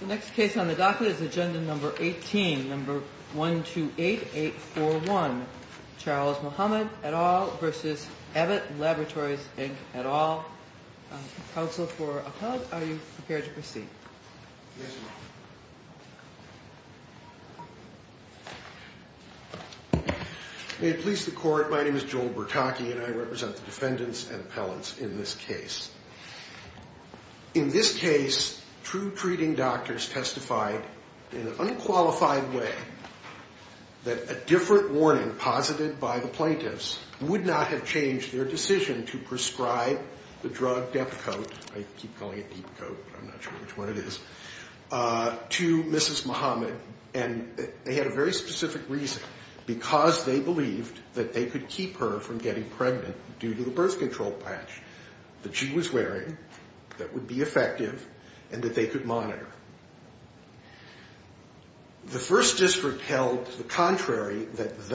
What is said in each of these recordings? The next case on the docket is agenda number 18, number 128841. Charles Muhammad et al. v. Abbott Laboratories, Inc. et al. Counsel for Appellant, are you prepared to proceed? Yes, ma'am. May it please the Court, my name is Joel Bertocchi and I represent the defendants and appellants in this case. In this case, two treating doctors testified in an unqualified way that a different warning posited by the plaintiffs would not have changed their decision to prescribe the drug Depakote I keep calling it Deepcoat but I'm not sure which one it is to Mrs. Muhammad and they had a very specific reason because they believed that they could keep her from getting pregnant due to the birth control patch that she was wearing that would be effective and that they could monitor. The First District held the contrary that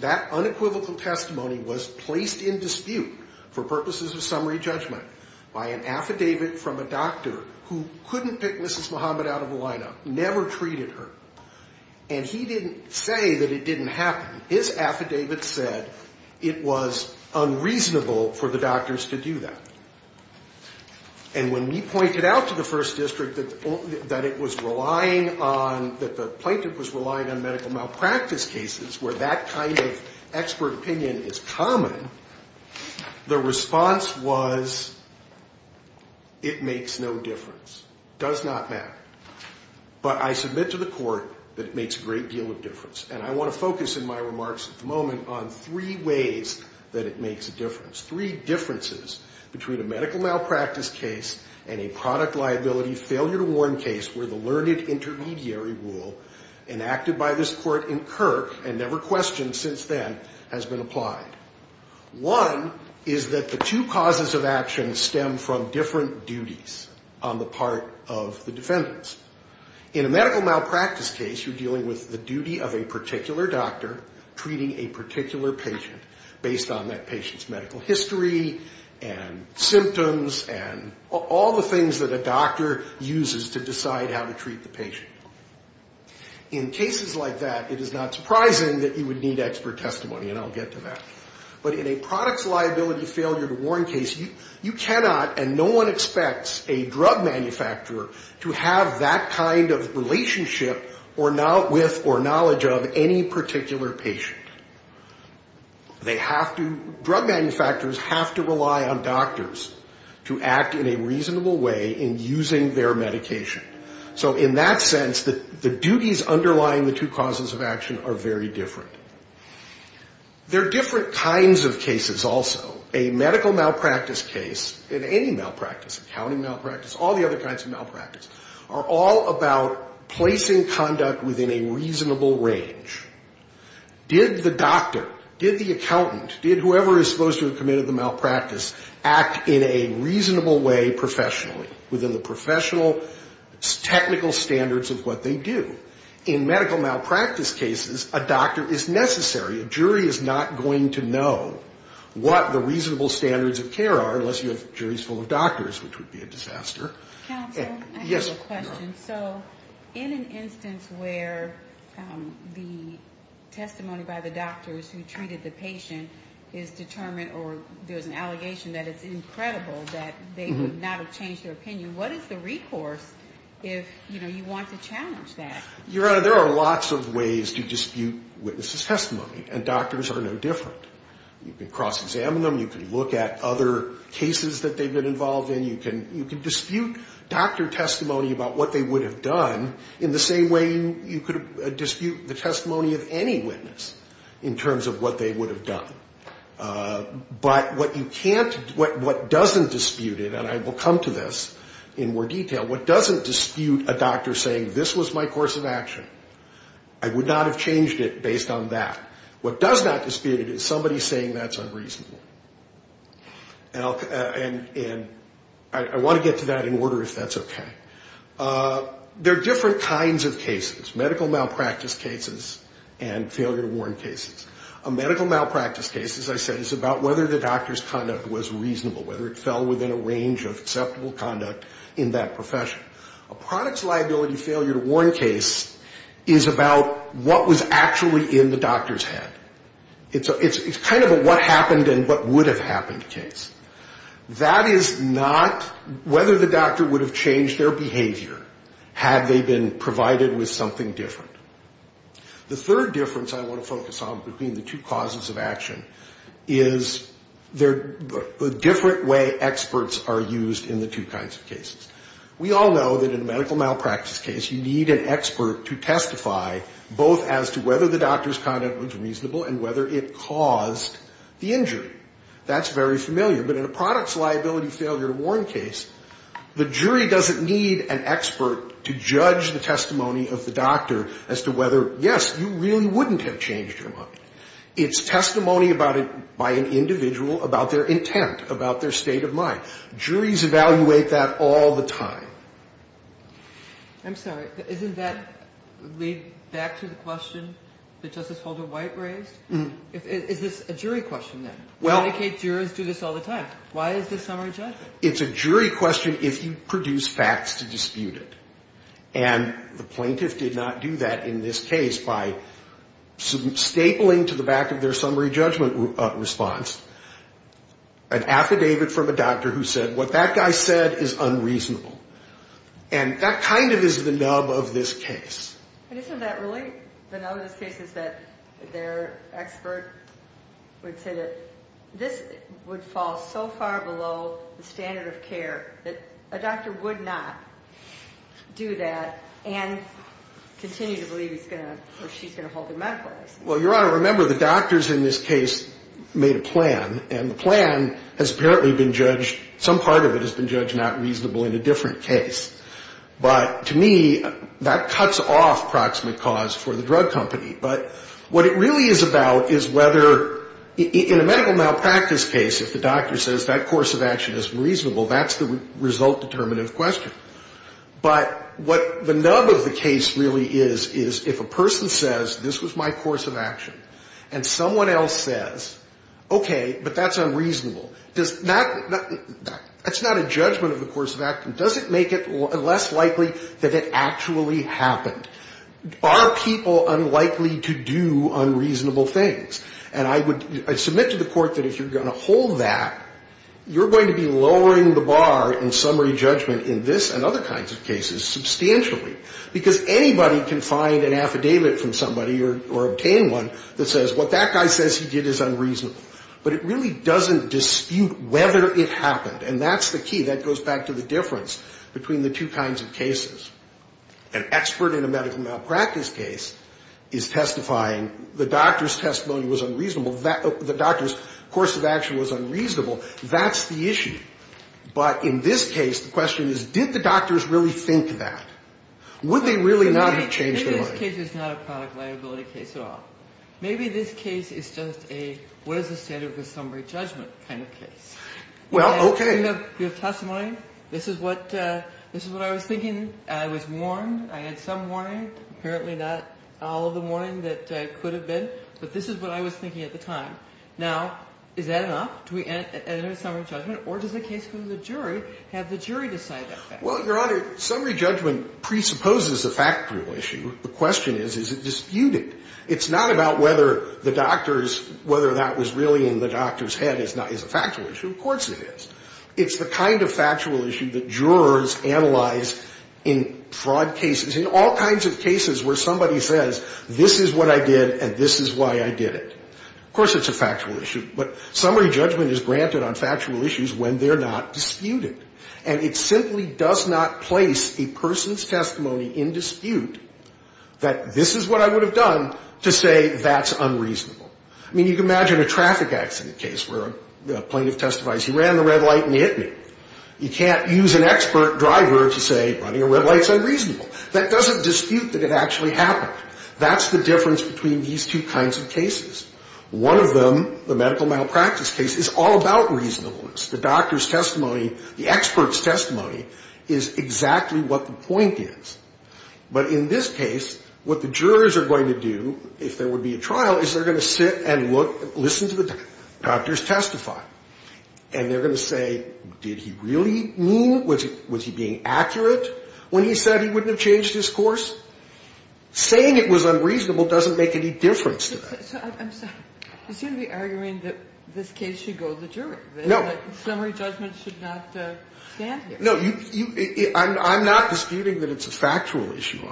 that unequivocal testimony was placed in dispute for purposes of summary judgment by an affidavit from a doctor who couldn't pick Mrs. Muhammad out of the lineup, never treated her and he didn't say that it didn't happen. His affidavit said it was unreasonable for the doctors to do that. And when we pointed out to the First District that it was relying on, that the plaintiff was relying on medical malpractice cases where that kind of expert opinion is common, the response was it makes no difference, does not matter. But I submit to the Court that it makes a great deal of difference and I want to focus in my remarks at the moment on three ways that it makes a difference. Three differences between a medical malpractice case and a product liability failure to warn case where the learned intermediary rule enacted by this Court in Kirk and never questioned since then has been applied. One is that the two causes of action stem from different duties on the part of the defendants. In a medical malpractice case, you're dealing with the duty of a particular doctor treating a particular patient based on that patient's medical history and symptoms and all the things that a doctor uses to decide how to treat the patient. In cases like that, it is not surprising that you would need expert testimony, and I'll get to that. But in a product liability failure to warn case, you cannot and no one expects a drug manufacturer to have that kind of relationship with or knowledge of any particular patient. Drug manufacturers have to rely on doctors to act in a reasonable way in using their medication. So in that sense, the duties underlying the two causes of action are very different. There are different kinds of cases also. A medical malpractice case, in any malpractice, accounting malpractice, all the other kinds of malpractice, are all about placing conduct within a reasonable range. Did the doctor, did the accountant, did whoever is supposed to have committed the malpractice act in a reasonable way professionally, within the professional technical standards of what they do? In medical malpractice cases, a doctor is necessary. A jury is not going to know what the reasonable standards of care are unless you have juries full of doctors, which would be a disaster. Counsel, I have a question. So in an instance where the testimony by the doctors who treated the patient is determined or there's an allegation that it's incredible that they would not have changed their opinion, what is the recourse if, you know, you want to challenge that? Your Honor, there are lots of ways to dispute witnesses' testimony, and doctors are no different. You can cross-examine them. You can look at other cases that they've been involved in. You can dispute doctor testimony about what they would have done in the same way you could dispute the testimony of any witness in terms of what they would have done. But what you can't, what doesn't dispute it, and I will come to this in more detail, what doesn't dispute a doctor saying this was my course of action, I would not have changed it based on that. What does not dispute it is somebody saying that's unreasonable. And I want to get to that in order if that's okay. There are different kinds of cases, medical malpractice cases and failure to warn cases. A medical malpractice case, as I said, is about whether the doctor's conduct was reasonable, whether it fell within a range of acceptable conduct in that profession. A products liability failure to warn case is about what was actually in the doctor's head. It's kind of a what happened and what would have happened case. That is not whether the doctor would have changed their behavior had they been provided with something different. The third difference I want to focus on between the two causes of action is the different way experts are used in the two kinds of cases. We all know that in a medical malpractice case you need an expert to testify both as to whether the doctor's conduct was reasonable and whether it caused the injury. That's very familiar. But in a products liability failure to warn case, the jury doesn't need an expert to judge the testimony of the doctor as to whether, yes, you really wouldn't have changed your mind. It's testimony about it by an individual about their intent, about their state of mind. Juries evaluate that all the time. I'm sorry. Doesn't that lead back to the question that Justice Holder White raised? Is this a jury question, then? Medicaid jurors do this all the time. Why is this summary judgment? It's a jury question if you produce facts to dispute it. And the plaintiff did not do that in this case by stapling to the back of their summary judgment response an affidavit from a doctor who said what that guy said is unreasonable. And that kind of is the nub of this case. Isn't that really the nub of this case is that their expert would say that this would fall so far below the standard of care that a doctor would not do that and continue to believe he's going to or she's going to halt their medical license? Well, Your Honor, remember the doctors in this case made a plan, and the plan has apparently been judged, some part of it has been judged not reasonable in a different case. But to me, that cuts off proximate cause for the drug company. But what it really is about is whether, in a medical malpractice case, if the doctor says that course of action is reasonable, that's the result determinative question. But what the nub of the case really is, is if a person says this was my course of action, and someone else says, okay, but that's unreasonable, that's not a judgment of the course of action, does it make it less likely that it actually happened? Are people unlikely to do unreasonable things? And I submit to the court that if you're going to hold that, you're going to be lowering the bar in summary judgment in this and other kinds of cases substantially, because anybody can find an affidavit from somebody or obtain one that says what that guy says he did is unreasonable. But it really doesn't dispute whether it happened, and that's the key. That goes back to the difference between the two kinds of cases. An expert in a medical malpractice case is testifying, the doctor's testimony was unreasonable, the doctor's course of action was unreasonable, that's the issue. But in this case, the question is, did the doctors really think that? Would they really not have changed their mind? Maybe this case is not a product liability case at all. Maybe this case is just a what is the standard of the summary judgment kind of case. Well, okay. Your testimony, this is what I was thinking. I was warned. I had some warning. Apparently not all of the warning that I could have been. But this is what I was thinking at the time. Now, is that enough? Do we end in a summary judgment? Or does the case go to the jury? Have the jury decide that fact? Well, Your Honor, summary judgment presupposes a factual issue. The question is, is it disputed? It's not about whether the doctors, whether that was really in the doctor's head is a factual issue. Of course it is. It's the kind of factual issue that jurors analyze in fraud cases, in all kinds of cases where somebody says, this is what I did and this is why I did it. Of course it's a factual issue. But summary judgment is granted on factual issues when they're not disputed. And it simply does not place a person's testimony in dispute that this is what I would have done to say that's unreasonable. I mean, you can imagine a traffic accident case where a plaintiff testifies, he ran the red light and he hit me. You can't use an expert driver to say running a red light is unreasonable. That doesn't dispute that it actually happened. That's the difference between these two kinds of cases. One of them, the medical malpractice case, is all about reasonableness. The doctor's testimony, the expert's testimony is exactly what the point is. But in this case, what the jurors are going to do, if there would be a trial, is they're going to sit and listen to the doctor's testify. And they're going to say, did he really mean, was he being accurate when he said he wouldn't have changed his course? Saying it was unreasonable doesn't make any difference to that. I'm sorry. You seem to be arguing that this case should go to the jury. No. Summary judgment should not stand here. No, I'm not disputing that it's a factual issue.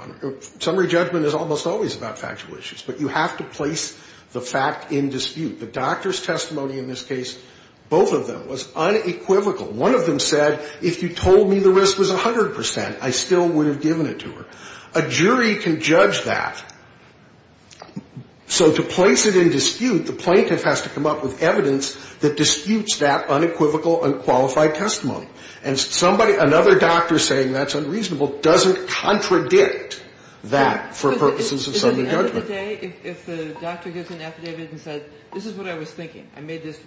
Summary judgment is almost always about factual issues. But you have to place the fact in dispute. The doctor's testimony in this case, both of them, was unequivocal. One of them said, if you told me the risk was 100 percent, I still would have given it to her. A jury can judge that. So to place it in dispute, the plaintiff has to come up with evidence that disputes that unequivocal, unqualified testimony. And somebody, another doctor saying that's unreasonable doesn't contradict that for purposes of summary judgment. At the end of the day, if the doctor gives an affidavit and says, this is what I was thinking, I made this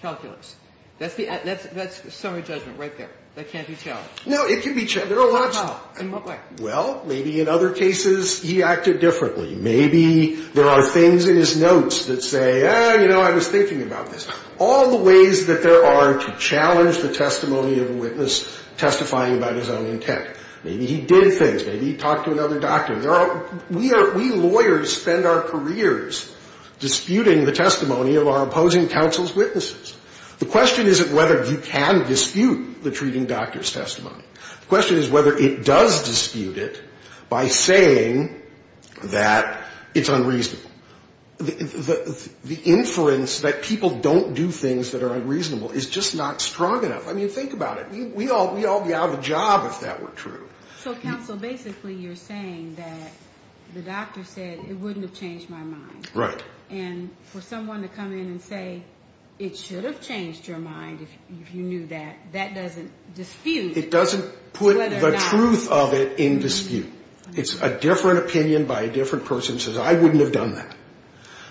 calculus, that's summary judgment right there. That can't be challenged. No, it can be challenged. How? In what way? Well, maybe in other cases he acted differently. Maybe there are things in his notes that say, ah, you know, I was thinking about this. All the ways that there are to challenge the testimony of a witness testifying about his own intent. Maybe he did things. Maybe he talked to another doctor. There are – we are – we lawyers spend our careers disputing the testimony of our opposing counsel's witnesses. The question isn't whether you can dispute the treating doctor's testimony. The question is whether it does dispute it by saying that it's unreasonable. The inference that people don't do things that are unreasonable is just not strong enough. I mean, think about it. We all would be out of a job if that were true. So, counsel, basically you're saying that the doctor said it wouldn't have changed my mind. Right. And for someone to come in and say it should have changed your mind if you knew that, that doesn't dispute it. It doesn't put the truth of it in dispute. It's a different opinion by a different person who says I wouldn't have done that.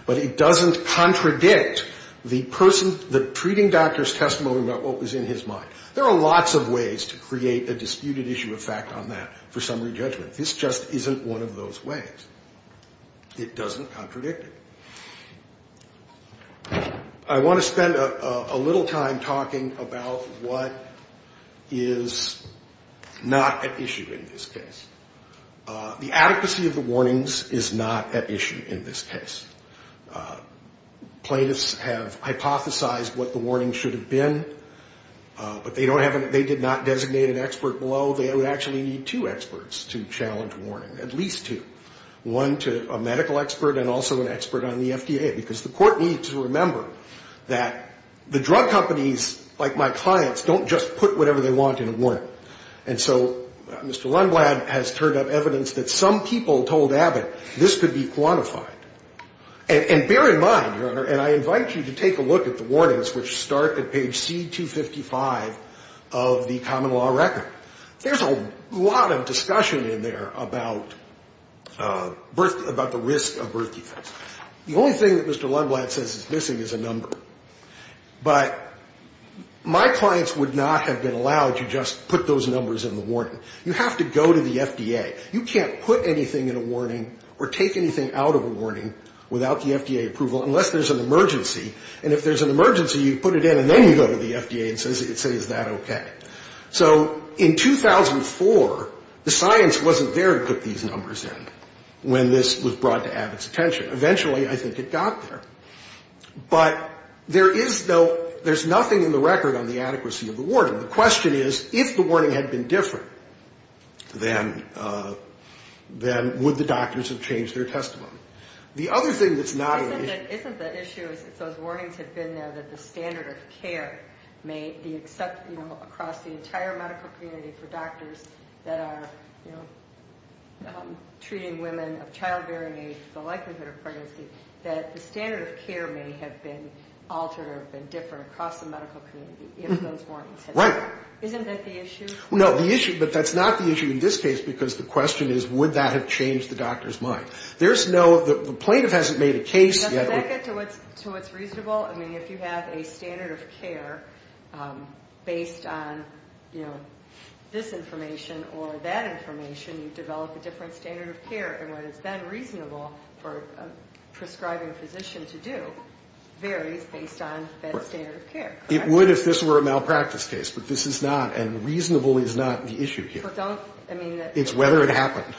But it doesn't contradict the person – the treating doctor's testimony about what was in his mind. There are lots of ways to create a disputed issue of fact on that for summary judgment. This just isn't one of those ways. It doesn't contradict it. I want to spend a little time talking about what is not at issue in this case. The adequacy of the warnings is not at issue in this case. Plaintiffs have hypothesized what the warning should have been, but they did not designate an expert below. They would actually need two experts to challenge warning, at least two, one to a medical expert and also an expert on the FDA. Because the court needs to remember that the drug companies, like my clients, don't just put whatever they want in a warning. And so Mr. Lundblad has turned up evidence that some people told Abbott this could be quantified. And bear in mind, Your Honor, and I invite you to take a look at the warnings, which start at page C255 of the common law record. There's a lot of discussion in there about birth, about the risk of birth defects. The only thing that Mr. Lundblad says is missing is a number. But my clients would not have been allowed to just put those numbers in the warning. You have to go to the FDA. You can't put anything in a warning or take anything out of a warning without the FDA approval, unless there's an emergency. And if there's an emergency, you put it in and then you go to the FDA and say, is that okay? So in 2004, the science wasn't there to put these numbers in when this was brought to Abbott's attention. Eventually, I think it got there. But there is no ‑‑ there's nothing in the record on the adequacy of the warning. The question is, if the warning had been different, then would the doctors have changed their testimony? The other thing that's not ‑‑ Isn't the issue is if those warnings have been there, that the standard of care may be accepted, you know, across the entire medical community for doctors that are, you know, treating women of childbearing age, the likelihood of pregnancy, that the standard of care may have been altered or been different across the medical community, if those warnings had been there. Isn't that the issue? No, the issue ‑‑ but that's not the issue in this case, because the question is, would that have changed the doctor's mind? There's no ‑‑ the plaintiff hasn't made a case. Does that get to what's reasonable? I mean, if you have a standard of care based on, you know, this information or that information, you develop a different standard of care. And what has been reasonable for a prescribing physician to do varies based on that standard of care. It would if this were a malpractice case. But this is not. And reasonable is not the issue here. But don't ‑‑ It's whether it happened.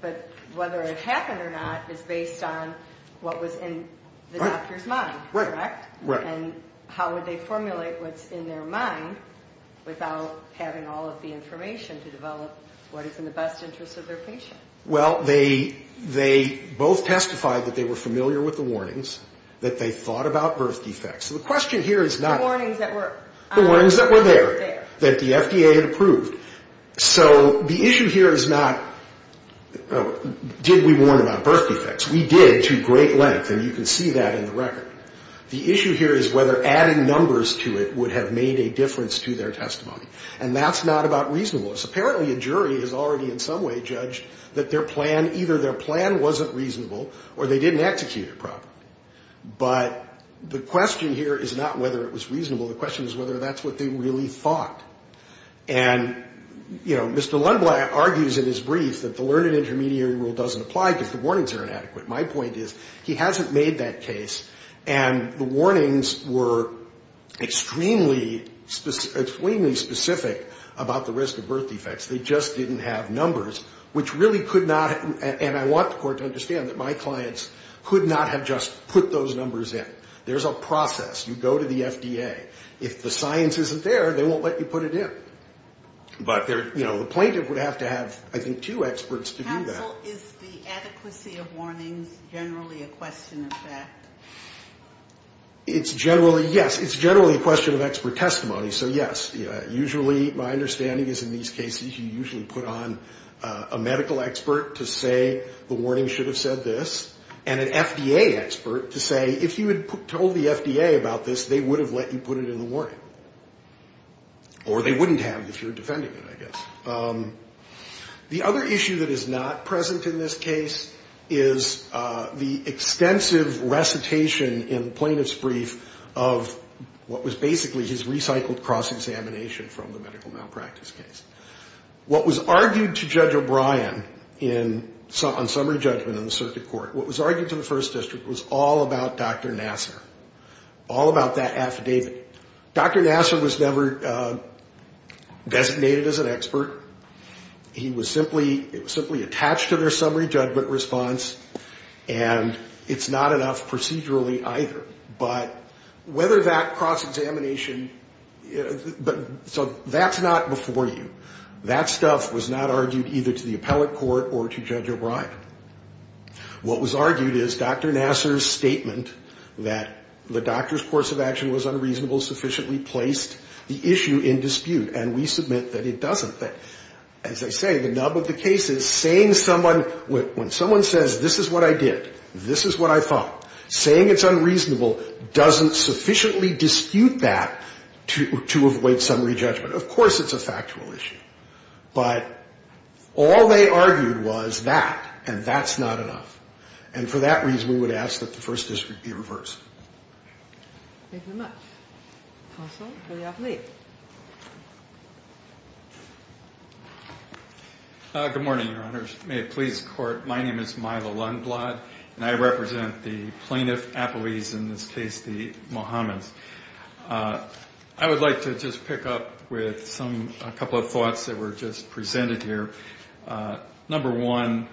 But whether it happened or not is based on what was in the doctor's mind, correct? Right, right. And how would they formulate what's in their mind without having all of the information to develop what is in the best interest of their patient? Well, they both testified that they were familiar with the warnings, that they thought about birth defects. So the question here is not ‑‑ The warnings that were there. The warnings that were there, that the FDA had approved. So the issue here is not did we warn about birth defects. We did to great length, and you can see that in the record. The issue here is whether adding numbers to it would have made a difference to their testimony. And that's not about reasonableness. Apparently a jury has already in some way judged that their plan, either their plan wasn't reasonable or they didn't execute it properly. But the question here is not whether it was reasonable. The question is whether that's what they really thought. And, you know, Mr. Lundblad argues in his brief that the learned intermediary rule doesn't apply because the warnings are inadequate. My point is he hasn't made that case, and the warnings were extremely specific about the risk of birth defects. They just didn't have numbers, which really could not ‑‑ and I want the court to understand that my clients could not have just put those numbers in. There's a process. You go to the FDA. If the science isn't there, they won't let you put it in. But, you know, the plaintiff would have to have, I think, two experts to do that. Counsel, is the adequacy of warnings generally a question of fact? It's generally, yes. It's generally a question of expert testimony. So, yes, usually my understanding is in these cases you usually put on a medical expert to say the warning should have said this, and an FDA expert to say if you had told the FDA about this, they would have let you put it in the warning. Or they wouldn't have if you're defending it, I guess. The other issue that is not present in this case is the extensive recitation in the plaintiff's brief of what was basically his recycled cross-examination from the medical malpractice case. What was argued to Judge O'Brien on summary judgment in the circuit court, what was argued to the first district was all about Dr. Nassar, all about that affidavit. Dr. Nassar was never designated as an expert. He was simply attached to their summary judgment response, and it's not enough procedurally either. But whether that cross-examination, so that's not before you. That stuff was not argued either to the appellate court or to Judge O'Brien. What was argued is Dr. Nassar's statement that the doctor's course of action was unreasonable sufficiently placed the issue in dispute, and we submit that it doesn't. As I say, the nub of the case is saying someone, when someone says this is what I did, this is what I thought, saying it's unreasonable doesn't sufficiently dispute that to avoid summary judgment. Of course it's a factual issue. But all they argued was that, and that's not enough. And for that reason, we would ask that the first district be reversed. Thank you very much. Counsel for the appellate. Good morning, Your Honors. May it please the Court. My name is Milo Lundblad, and I represent the plaintiff appellees, in this case the Mohammeds. I would like to just pick up with some, a couple of thoughts that were just presented here. Number one,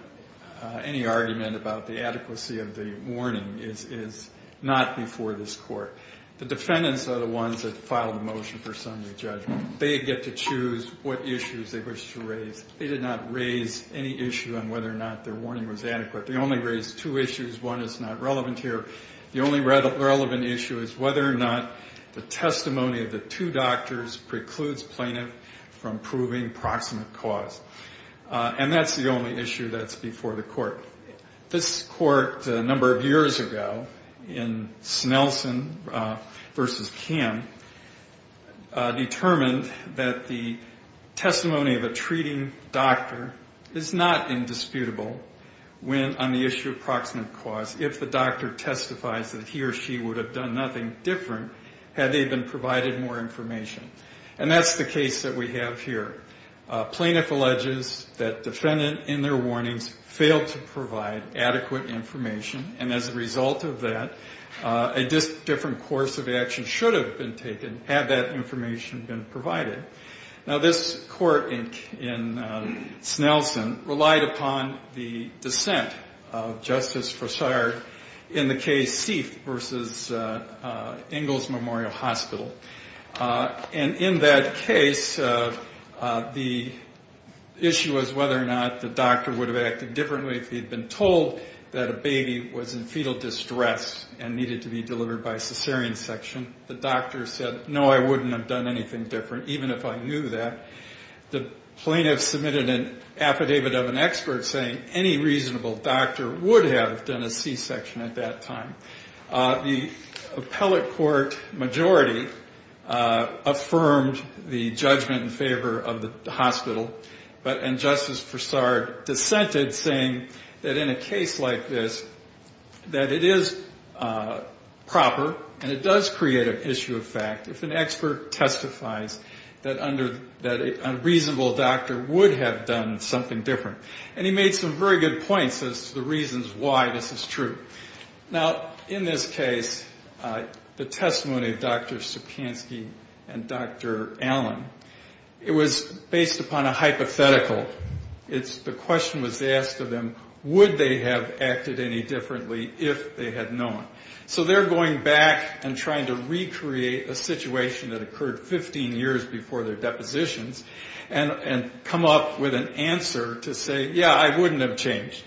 any argument about the adequacy of the warning is not before this Court. The defendants are the ones that file the motion for summary judgment. They get to choose what issues they wish to raise. They did not raise any issue on whether or not their warning was adequate. They only raised two issues. One is not relevant here. The only relevant issue is whether or not the testimony of the two doctors precludes plaintiff from proving proximate cause. And that's the only issue that's before the Court. This Court, a number of years ago, in Snelson v. Kim, determined that the testimony of a treating doctor is not indisputable when on the issue of proximate cause, if the doctor testifies that he or she would have done nothing different had they been provided more information. And that's the case that we have here. Plaintiff alleges that defendant, in their warnings, failed to provide adequate information, and as a result of that, a different course of action should have been taken had that information been provided. Now, this Court in Snelson relied upon the dissent of Justice Forsyth in the case Seath v. Ingalls Memorial Hospital. And in that case, the issue was whether or not the doctor would have acted differently if he had been told that a baby was in fetal distress and needed to be delivered by a cesarean section. The doctor said, no, I wouldn't have done anything different, even if I knew that. The plaintiff submitted an affidavit of an expert saying any reasonable doctor would have done a C-section at that time. The appellate court majority affirmed the judgment in favor of the hospital, and Justice Forsyth dissented, saying that in a case like this, that it is proper, and it does create an issue of fact if an expert testifies that a reasonable doctor would have done something different. And he made some very good points as to the reasons why this is true. Now, in this case, the testimony of Dr. Sapkansky and Dr. Allen, it was based upon a hypothetical. The question was asked of them, would they have acted any differently if they had known? So they're going back and trying to recreate a situation that occurred 15 years before their depositions and come up with an answer to say, yeah, I wouldn't have changed.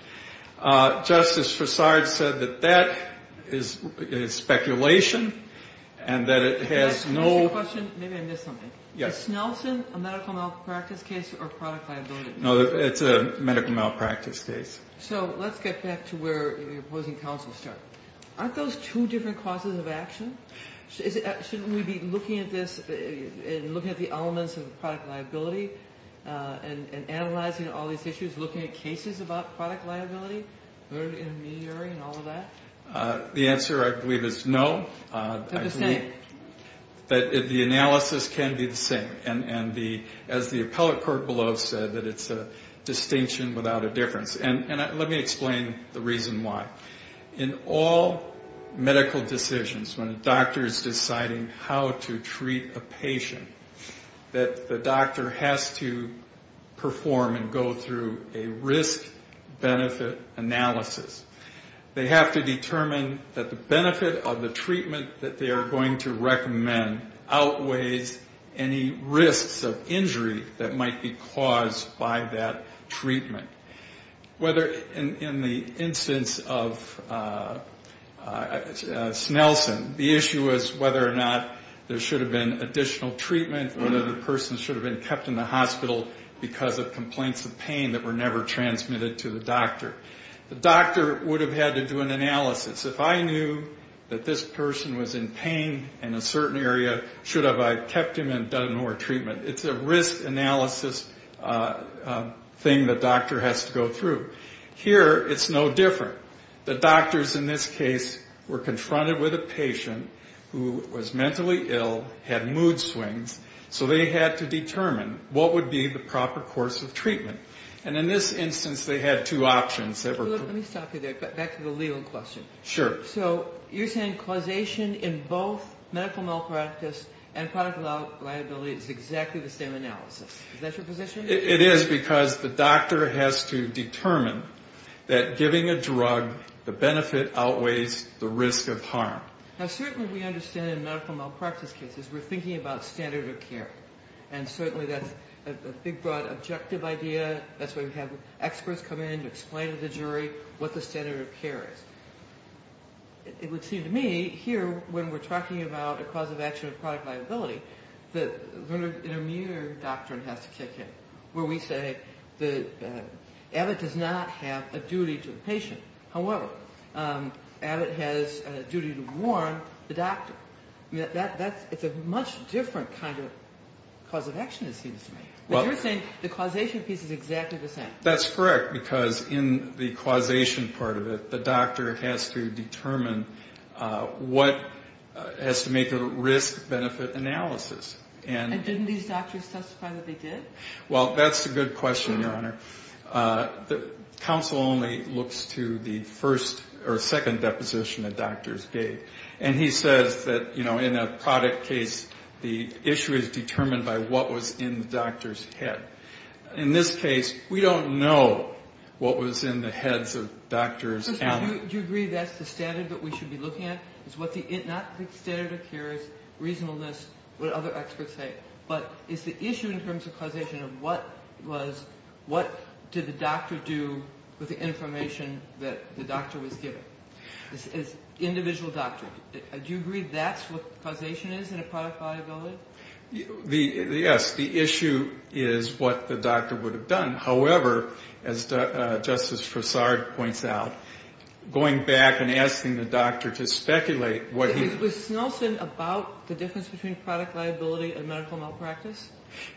Justice Forsyth said that that is speculation, and that it has no... Can I ask you a question? Maybe I missed something. Yes. Is Snelson a medical malpractice case or product liability? No, it's a medical malpractice case. So let's get back to where your opposing counsel stood. Aren't those two different causes of action? Shouldn't we be looking at this and looking at the elements of product liability and analyzing all these issues, looking at cases about product liability, early intermediary and all of that? The answer, I believe, is no. They're the same. The analysis can be the same. And as the appellate court below said, that it's a distinction without a difference. And let me explain the reason why. In all medical decisions, when a doctor is deciding how to treat a patient, that the doctor has to perform and go through a risk-benefit analysis. They have to determine that the benefit of the treatment that they are going to recommend outweighs any risks of injury that might be caused by that treatment. Whether in the instance of Snelson, the issue was whether or not there should have been additional treatment, whether the person should have been kept in the hospital because of complaints of pain that were never transmitted to the doctor. The doctor would have had to do an analysis. If I knew that this person was in pain in a certain area, should I have kept him and done more treatment? It's a risk analysis thing the doctor has to go through. Here it's no different. The doctors in this case were confronted with a patient who was mentally ill, had mood swings, so they had to determine what would be the proper course of treatment. And in this instance, they had two options. Let me stop you there. Back to the legal question. Sure. So you're saying causation in both medical malpractice and product liability is exactly the same analysis. Is that your position? It is because the doctor has to determine that giving a drug the benefit outweighs the risk of harm. Now, certainly we understand in medical malpractice cases we're thinking about standard of care. And certainly that's a big, broad, objective idea. That's why we have experts come in to explain to the jury what the standard of care is. It would seem to me here when we're talking about a cause of action of product liability, that an immediate doctrine has to kick in where we say that Abbott does not have a duty to the patient. However, Abbott has a duty to warn the doctor. It's a much different kind of cause of action, it seems to me. But you're saying the causation piece is exactly the same. That's correct, because in the causation part of it, the doctor has to determine what has to make a risk-benefit analysis. And didn't these doctors testify that they did? Well, that's a good question, Your Honor. Counsel only looks to the first or second deposition the doctors gave. And he says that, you know, in a product case, the issue is determined by what was in the doctor's head. In this case, we don't know what was in the heads of doctors. Do you agree that's the standard that we should be looking at? It's not the standard of care, it's reasonableness, what other experts say. But it's the issue in terms of causation of what did the doctor do with the information that the doctor was given. It's individual doctrine. Do you agree that's what causation is in a product liability? Yes, the issue is what the doctor would have done. However, as Justice Fassard points out, going back and asking the doctor to speculate what he... Was Snelson about the difference between product liability and medical malpractice?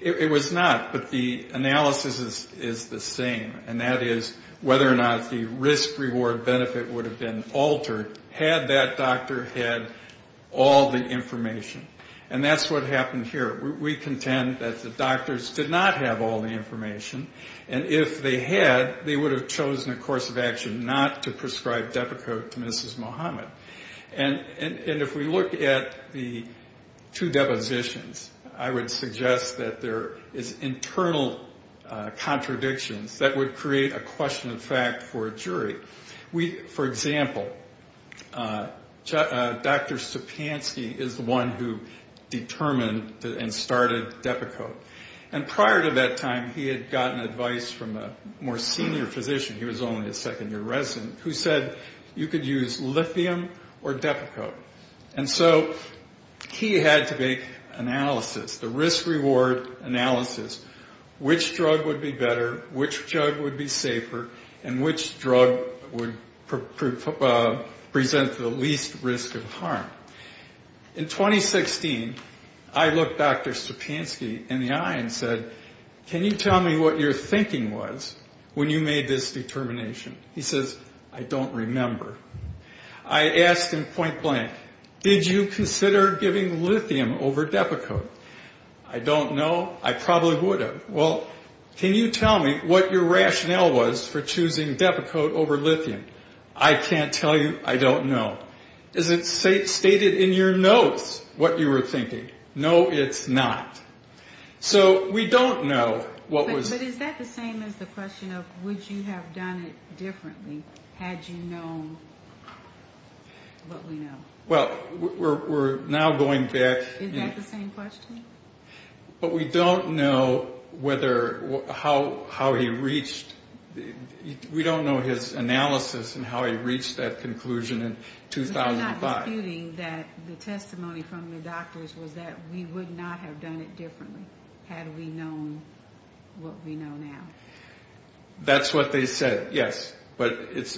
It was not. But the analysis is the same, and that is whether or not the risk-reward-benefit would have been altered had that doctor had all the information. And that's what happened here. We contend that the doctors did not have all the information, and if they had, they would have chosen a course of action not to prescribe Depakote to Mrs. Muhammad. And if we look at the two depositions, I would suggest that there is internal contradictions that would create a question of fact for a jury. For example, Dr. Stupansky is the one who determined and started Depakote. And prior to that time, he had gotten advice from a more senior physician, he was only a second-year resident, who said you could use lithium or Depakote. And so he had to make analysis, the risk-reward analysis, which drug would be better, which drug would be safer, and which drug would present the least risk of harm. In 2016, I looked Dr. Stupansky in the eye and said, can you tell me what your thinking was when you made this determination? He says, I don't remember. I asked him point blank, did you consider giving lithium over Depakote? I don't know. I probably would have. Well, can you tell me what your rationale was for choosing Depakote over lithium? I can't tell you. I don't know. Is it stated in your notes what you were thinking? No, it's not. So we don't know what was... But is that the same as the question of would you have done it differently had you known what we know? Well, we're now going back... Is that the same question? But we don't know whether how he reached... We don't know his analysis and how he reached that conclusion in 2005. We're not disputing that the testimony from the doctors was that we would not have done it differently had we known what we know now. That's what they said, yes. But it's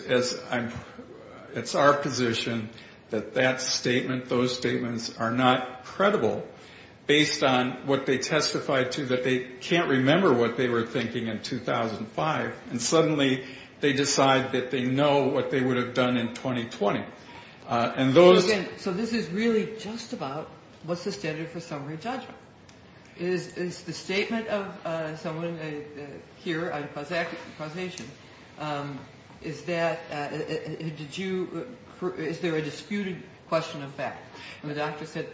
our position that that statement, those statements are not credible based on what they testified to, that they can't remember what they were thinking in 2005. And suddenly they decide that they know what they would have done in 2020. So this is really just about what's the standard for summary judgment? Is the statement of someone here on causation, is there a disputed question of fact? The doctor said,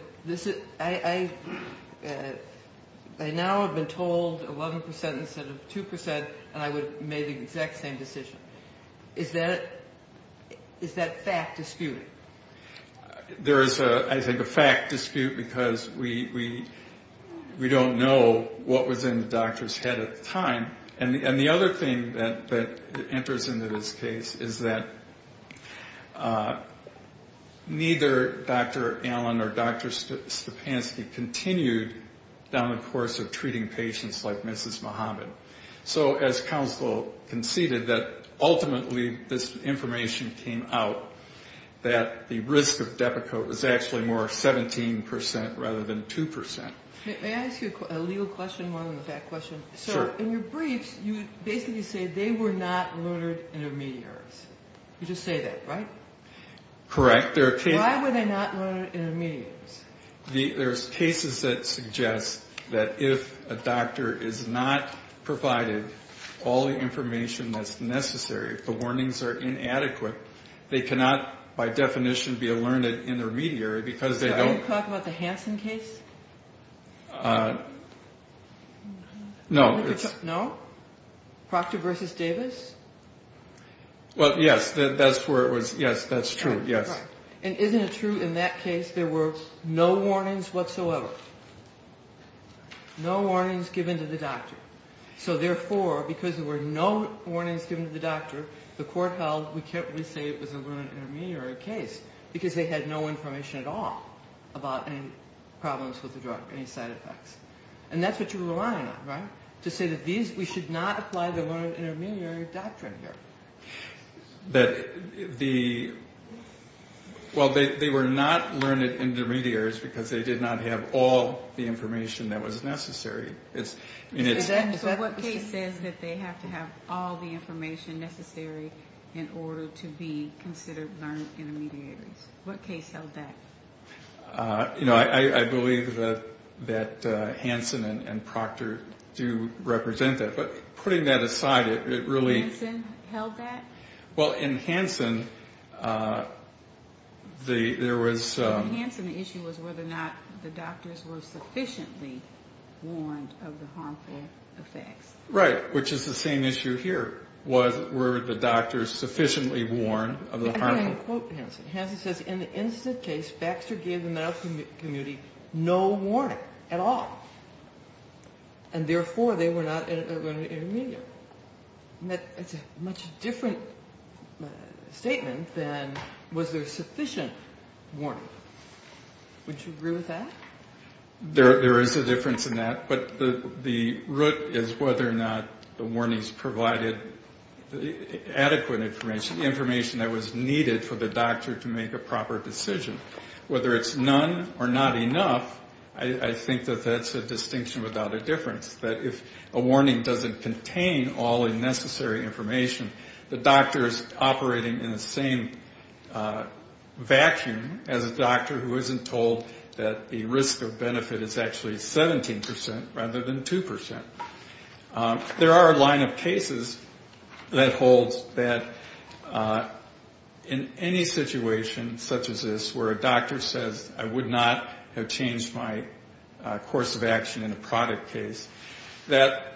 I now have been told 11% instead of 2% and I would have made the exact same decision. Is that fact disputed? There is, I think, a fact dispute because we don't know what was in the doctor's head at the time. And the other thing that enters into this case is that neither Dr. Allen or Dr. Stupansky continued down the course of treating patients like Mrs. Muhammad. So as counsel conceded that ultimately this information came out that the risk of Depakote was actually more 17% rather than 2%. May I ask you a legal question more than a fact question? Sure. So in your briefs, you basically say they were not murdered intermediaries. You just say that, right? Correct. Why were they not murdered intermediaries? There's cases that suggest that if a doctor is not provided all the information that's necessary, if the warnings are inadequate, they cannot by definition be alerted intermediary because they don't Are you talking about the Hansen case? No. No? Proctor v. Davis? Well, yes, that's where it was. Yes, that's true. Yes. And isn't it true in that case there were no warnings whatsoever? No warnings given to the doctor. So therefore, because there were no warnings given to the doctor, the court held we can't really say it was a murdered intermediary case because they had no information at all about any problems with the drug, any side effects. And that's what you're relying on, right? To say that we should not apply the murdered intermediary doctrine here. Well, they were not learned intermediaries because they did not have all the information that was necessary. So what case says that they have to have all the information necessary in order to be considered learned intermediaries? What case held that? I believe that Hansen and Proctor do represent that. But putting that aside, it really Hansen held that? Well, in Hansen, there was In Hansen, the issue was whether or not the doctors were sufficiently warned of the harmful effects. Right, which is the same issue here. Were the doctors sufficiently warned of the harmful effects? I'm going to quote Hansen. Hansen says, Baxter gave the medical community no warning at all. And therefore, they were not learned intermediary. It's a much different statement than was there sufficient warning. Would you agree with that? There is a difference in that, but the root is whether or not the warnings provided adequate information, information that was needed for the doctor to make a proper decision. Whether it's none or not enough, I think that that's a distinction without a difference, that if a warning doesn't contain all the necessary information, the doctor is operating in the same vacuum as a doctor who isn't told that the risk or benefit is actually 17% rather than 2%. There are a line of cases that holds that in any situation such as this where a doctor says, I would not have changed my course of action in a product case, that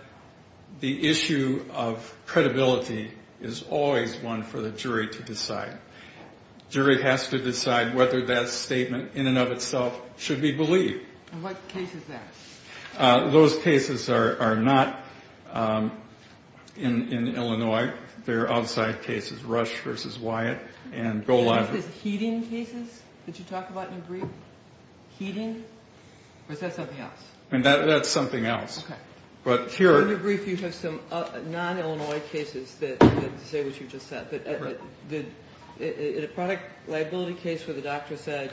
the issue of credibility is always one for the jury to decide. Jury has to decide whether that statement in and of itself should be believed. And what case is that? Those cases are not in Illinois. They're outside cases, Rush v. Wyatt and Goliath. Is this heating cases that you talk about in your brief? Heating? Or is that something else? That's something else. Okay. But here- In your brief, you have some non-Illinois cases that say what you just said. The product liability case where the doctor said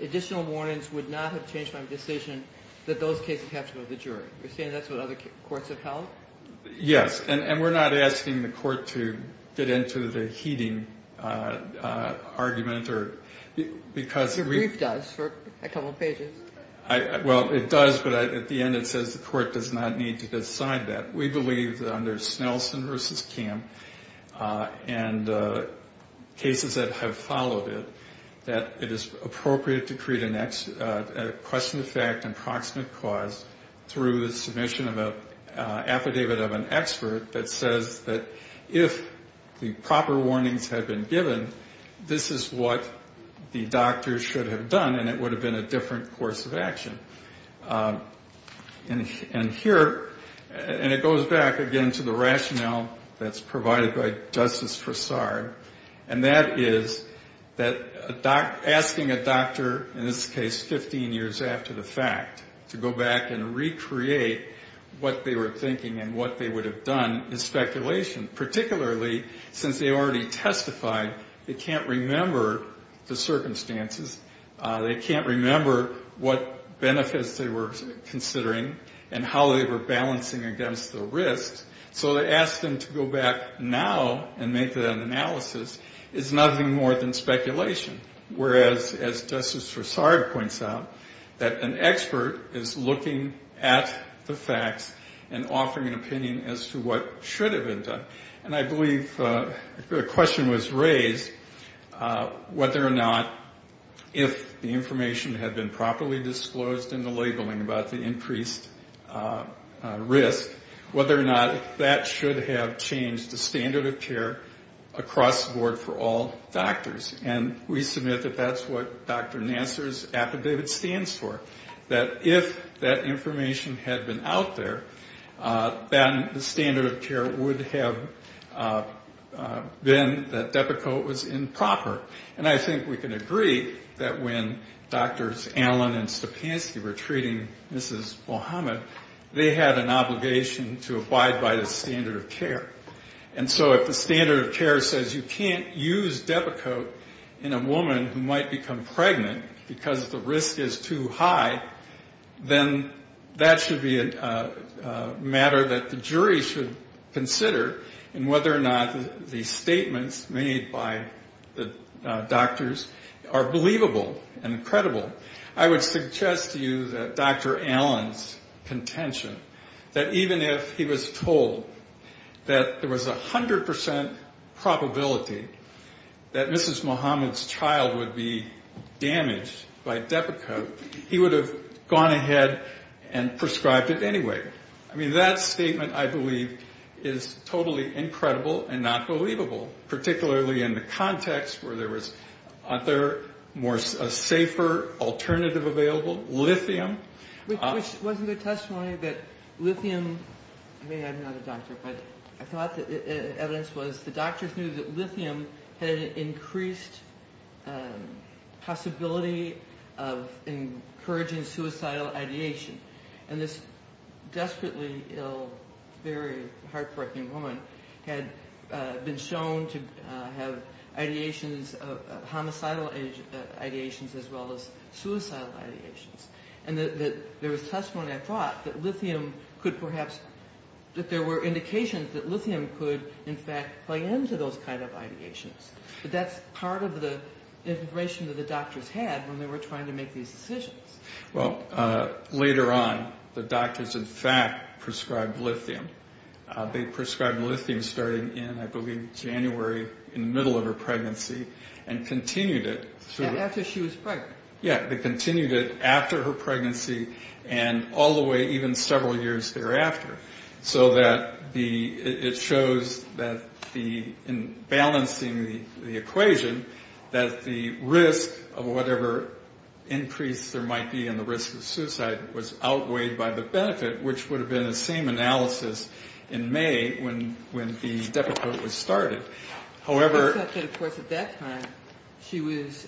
additional warnings would not have changed my decision, that those cases have to go to the jury. You're saying that's what other courts have held? Yes. And we're not asking the court to get into the heating argument or because- Your brief does for a couple of pages. Well, it does, but at the end it says the court does not need to decide that. We believe that under Snelson v. Kamm and cases that have followed it, that it is appropriate to create a question of fact and proximate cause through the submission of an affidavit of an expert that says that if the proper warnings had been given, this is what the doctor should have done and it would have been a different course of action. And here, and it goes back again to the rationale that's provided by Justice Fassard, and that is that asking a doctor, in this case 15 years after the fact, to go back and recreate what they were thinking and what they would have done is speculation, particularly since they already testified. They can't remember the circumstances. They can't remember what benefits they were considering and how they were balancing against the risks. So to ask them to go back now and make that analysis is nothing more than speculation, whereas, as Justice Fassard points out, that an expert is looking at the facts and offering an opinion as to what should have been done. And I believe the question was raised whether or not if the information had been properly disclosed in the labeling about the increased risk, whether or not that should have changed the standard of care across the board for all doctors. And we submit that that's what Dr. Nassar's affidavit stands for, that if that information had been out there, then the standard of care would have been that Depakote was improper. And I think we can agree that when Drs. Allen and Stupansky were treating Mrs. Muhammad, they had an obligation to abide by the standard of care. And so if the standard of care says you can't use Depakote in a woman who might become pregnant because the risk is too high, then that should be a matter that the jury should consider in whether or not the statements made by the doctors are believable and credible. I would suggest to you that Dr. Allen's contention that even if he was told that there was 100% probability that Mrs. Muhammad's child would be damaged by Depakote, he would have gone ahead and prescribed it anyway. I mean, that statement, I believe, is totally incredible and not believable, particularly in the context where there was a safer alternative available, lithium. Which wasn't a testimony that lithium, I mean, I'm not a doctor, but I thought the evidence was the doctors knew that lithium had an increased possibility of encouraging suicidal ideation. And this desperately ill, very heartbreaking woman had been shown to have ideations, homicidal ideations, as well as suicidal ideations. And there was testimony, I thought, that lithium could perhaps, that there were indications that lithium could, in fact, play into those kind of ideations. But that's part of the information that the doctors had when they were trying to make these decisions. Well, later on, the doctors, in fact, prescribed lithium. They prescribed lithium starting in, I believe, January, in the middle of her pregnancy, and continued it. After she was pregnant. Yeah, they continued it after her pregnancy and all the way even several years thereafter. So that the, it shows that the, in balancing the equation, that the risk of whatever increase there might be in the risk of suicide was outweighed by the benefit, which would have been the same analysis in May when the deprecate was started. However. Except that, of course, at that time, she was,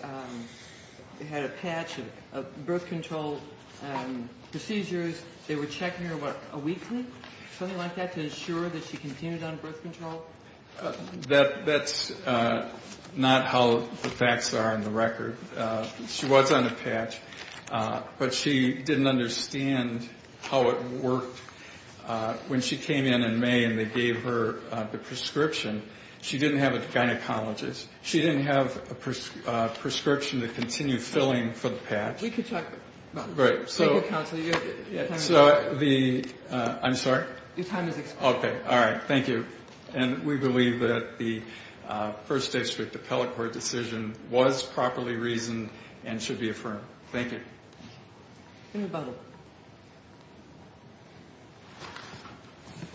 had a patch of birth control procedures. They were checking her about a week, something like that, to ensure that she continued on birth control. That's not how the facts are on the record. She was on a patch, but she didn't understand how it worked. When she came in in May and they gave her the prescription, she didn't have a gynecologist. She didn't have a prescription to continue filling for the patch. We could talk about that. Right. Thank you, counsel. So the, I'm sorry? Your time is expired. Okay. All right. Thank you. And we believe that the first day strict appellate court decision was properly reasoned and should be affirmed. Thank you.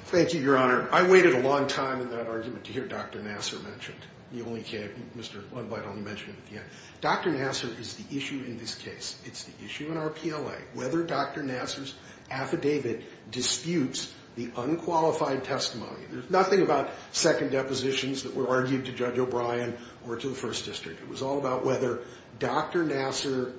Thank you, Your Honor. I waited a long time in that argument to hear Dr. Nassar mentioned. You only came, Mr. Blundlight only mentioned it at the end. Dr. Nassar is the issue in this case. It's the issue in our PLA, whether Dr. Nassar's affidavit disputes the unqualified testimony. There's nothing about second depositions that were argued to Judge O'Brien or to the First District. It was all about whether Dr. Nassar,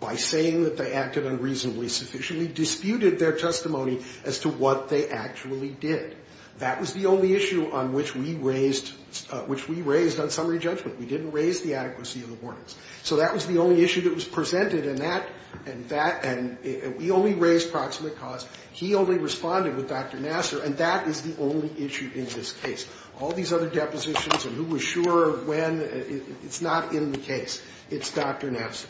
by saying that they acted unreasonably sufficiently, disputed their testimony as to what they actually did. That was the only issue on which we raised on summary judgment. We didn't raise the adequacy of the warnings. So that was the only issue that was presented, and we only raised proximate cause. He only responded with Dr. Nassar, and that is the only issue in this case. All these other depositions and who was sure of when, it's not in the case. It's Dr. Nassar.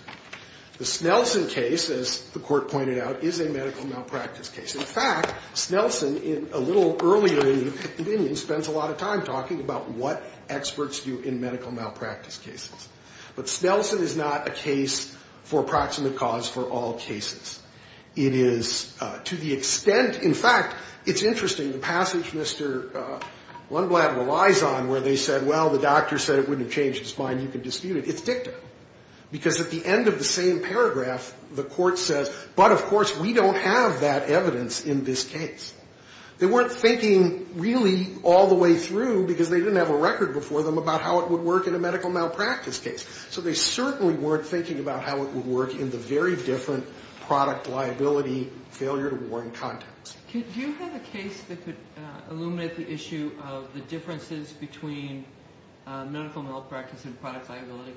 The Snelson case, as the Court pointed out, is a medical malpractice case. In fact, Snelson, a little earlier in the opinion, spends a lot of time talking about what experts do in medical malpractice cases. But Snelson is not a case for proximate cause for all cases. It is to the extent, in fact, it's interesting. The passage Mr. Lundblad relies on where they said, well, the doctor said it wouldn't have changed his mind, you can dispute it, it's dicta. Because at the end of the same paragraph, the Court says, but, of course, we don't have that evidence in this case. They weren't thinking really all the way through because they didn't have a record before them about how it would work in a medical malpractice case. So they certainly weren't thinking about how it would work in the very different product liability failure to warn context. Do you have a case that could illuminate the issue of the differences between medical malpractice and product liability?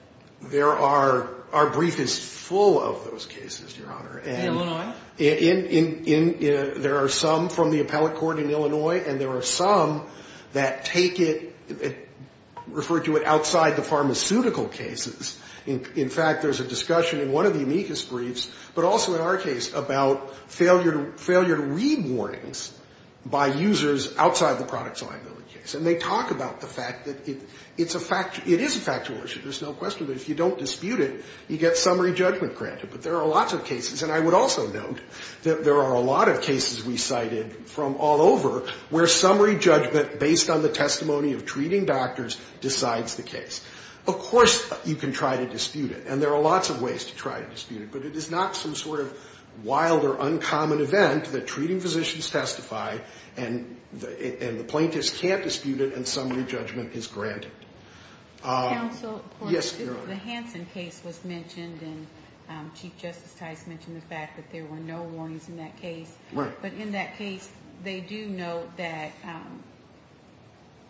Our brief is full of those cases, Your Honor. In Illinois? There are some from the appellate court in Illinois, and there are some that take it, refer to it outside the pharmaceutical cases. In fact, there's a discussion in one of the amicus briefs, but also in our case, about failure to read warnings by users outside the product liability case. And they talk about the fact that it is a factual issue, there's no question of it. If you don't dispute it, you get summary judgment granted. But there are lots of cases, and I would also note that there are a lot of cases we cited from all over where summary judgment based on the testimony of treating doctors decides the case. Of course you can try to dispute it, and there are lots of ways to try to dispute it, but it is not some sort of wild or uncommon event that treating physicians testify, and the plaintiffs can't dispute it, and summary judgment is granted. Counsel? Yes, Your Honor. The Hansen case was mentioned, and Chief Justice Tice mentioned the fact that there were no warnings in that case. Right. But in that case, they do note that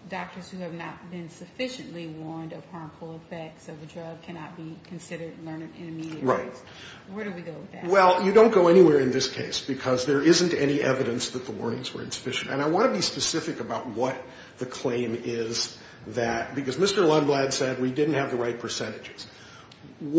doctors who have not been sufficiently warned of harmful effects of a drug cannot be considered learned in immediate rights. Right. Where do we go with that? Well, you don't go anywhere in this case, because there isn't any evidence that the warnings were insufficient. And I want to be specific about what the claim is that, because Mr. Lundblad said we didn't have the right percentages. And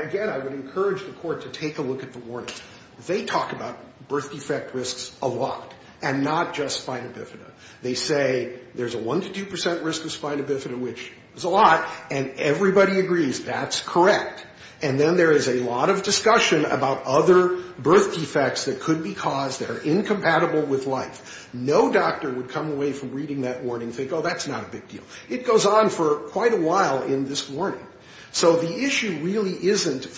again, I would encourage the Court to take a look at the warnings. They talk about birth defect risks a lot, and not just spina bifida. They say there's a 1 to 2 percent risk of spina bifida, which is a lot, and everybody agrees that's correct. And then there is a lot of discussion about other birth defects that could be caused that are incompatible with life. No doctor would come away from reading that warning and think, oh, that's not a big deal. It goes on for quite a while in this warning. So the issue really isn't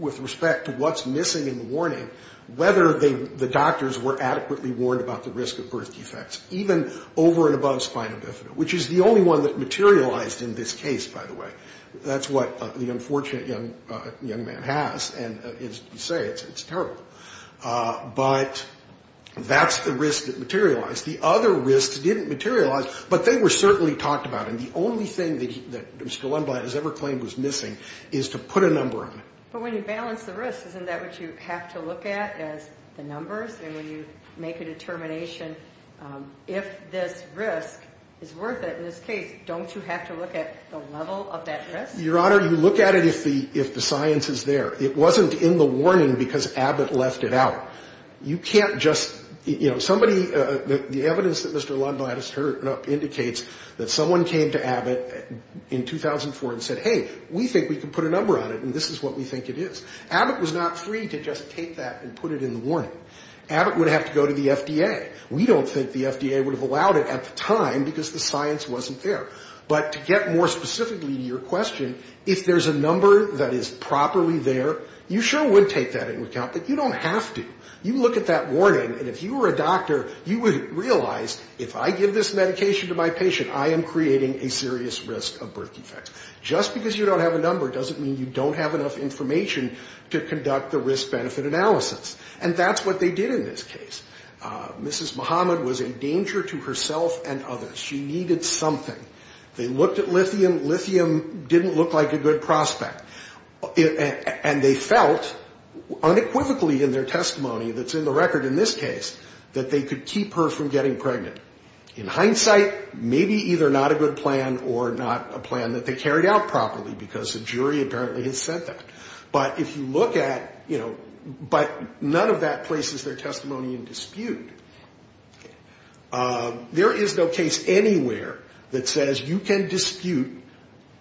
with respect to what's missing in the warning, whether the doctors were adequately warned about the risk of birth defects, even over and above spina bifida, which is the only one that materialized in this case, by the way. That's what the unfortunate young man has. And as you say, it's terrible. But that's the risk that materialized. The other risks didn't materialize, but they were certainly talked about. And the only thing that Mr. Lundblad has ever claimed was missing is to put a number on it. But when you balance the risks, isn't that what you have to look at as the numbers? And when you make a determination, if this risk is worth it in this case, don't you have to look at the level of that risk? Your Honor, you look at it if the science is there. It wasn't in the warning because Abbott left it out. You can't just, you know, somebody, the evidence that Mr. Lundblad has turned up indicates that someone came to Abbott in 2004 and said, hey, we think we can put a number on it. We think it is. Abbott was not free to just take that and put it in the warning. Abbott would have to go to the FDA. We don't think the FDA would have allowed it at the time because the science wasn't there. But to get more specifically to your question, if there's a number that is properly there, you sure would take that into account. But you don't have to. You look at that warning, and if you were a doctor, you would realize if I give this medication to my patient, I am creating a serious risk of birth defects. Just because you don't have a number doesn't mean you don't have enough information to conduct the risk-benefit analysis. And that's what they did in this case. Mrs. Muhammad was a danger to herself and others. She needed something. They looked at lithium. Lithium didn't look like a good prospect. And they felt, unequivocally in their testimony that's in the record in this case, that they could keep her from getting pregnant. In hindsight, maybe either not a good plan or not a plan that they carried out properly because the jury apparently has said that. But if you look at, you know, but none of that places their testimony in dispute. There is no case anywhere that says you can dispute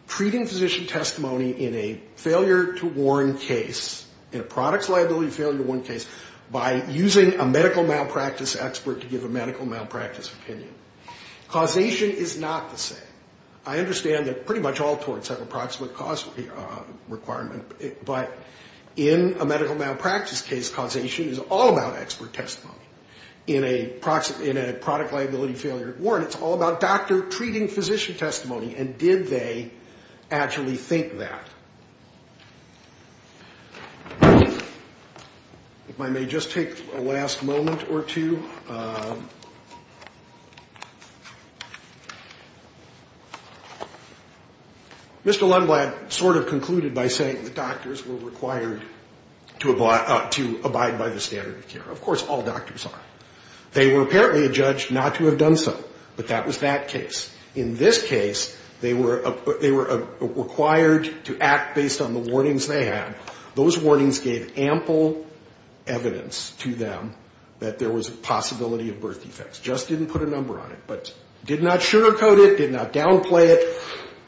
treating physician testimony in a failure-to-warn case, in a products liability failure-to-warn case, by using a medical malpractice expert to give a medical malpractice opinion. Causation is not the same. I understand that pretty much all torts have approximate cause requirement. But in a medical malpractice case, causation is all about expert testimony. In a product liability failure-to-warn, it's all about doctor treating physician testimony. And did they actually think that? If I may just take a last moment or two. Mr. Lundblad sort of concluded by saying that doctors were required to abide by the standard of care. Of course, all doctors are. They were apparently adjudged not to have done so. But that was that case. Those warnings gave ample evidence to them that there was a possibility of birth defects. Just didn't put a number on it. But did not sugarcoat it, did not downplay it.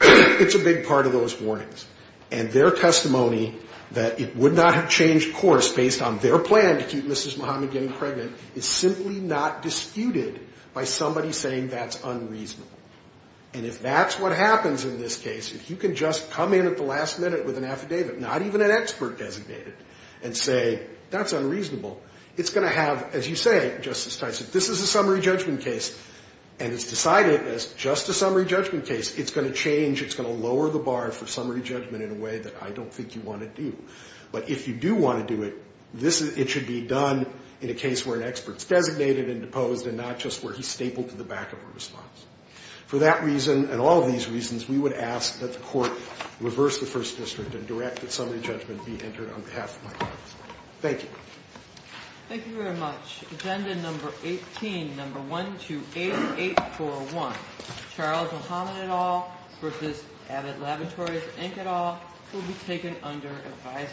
It's a big part of those warnings. And their testimony that it would not have changed course based on their plan to keep Mrs. Muhammad getting pregnant is simply not disputed by somebody saying that's unreasonable. And if that's what happens in this case, if you can just come in at the last minute with an affidavit, not even an expert designated, and say that's unreasonable, it's going to have, as you say, Justice Tyson, this is a summary judgment case and it's decided as just a summary judgment case, it's going to change, it's going to lower the bar for summary judgment in a way that I don't think you want to do. But if you do want to do it, it should be done in a case where an expert is designated and deposed and not just where he's stapled to the back of a response. For that reason and all of these reasons, we would ask that the court reverse the First District and direct that summary judgment be entered on behalf of my clients. Thank you. Thank you very much. Agenda number 18, number 128841, Charles Muhammad et al. v. Abbott Laboratories, Inc. et al. will be taken under advisory.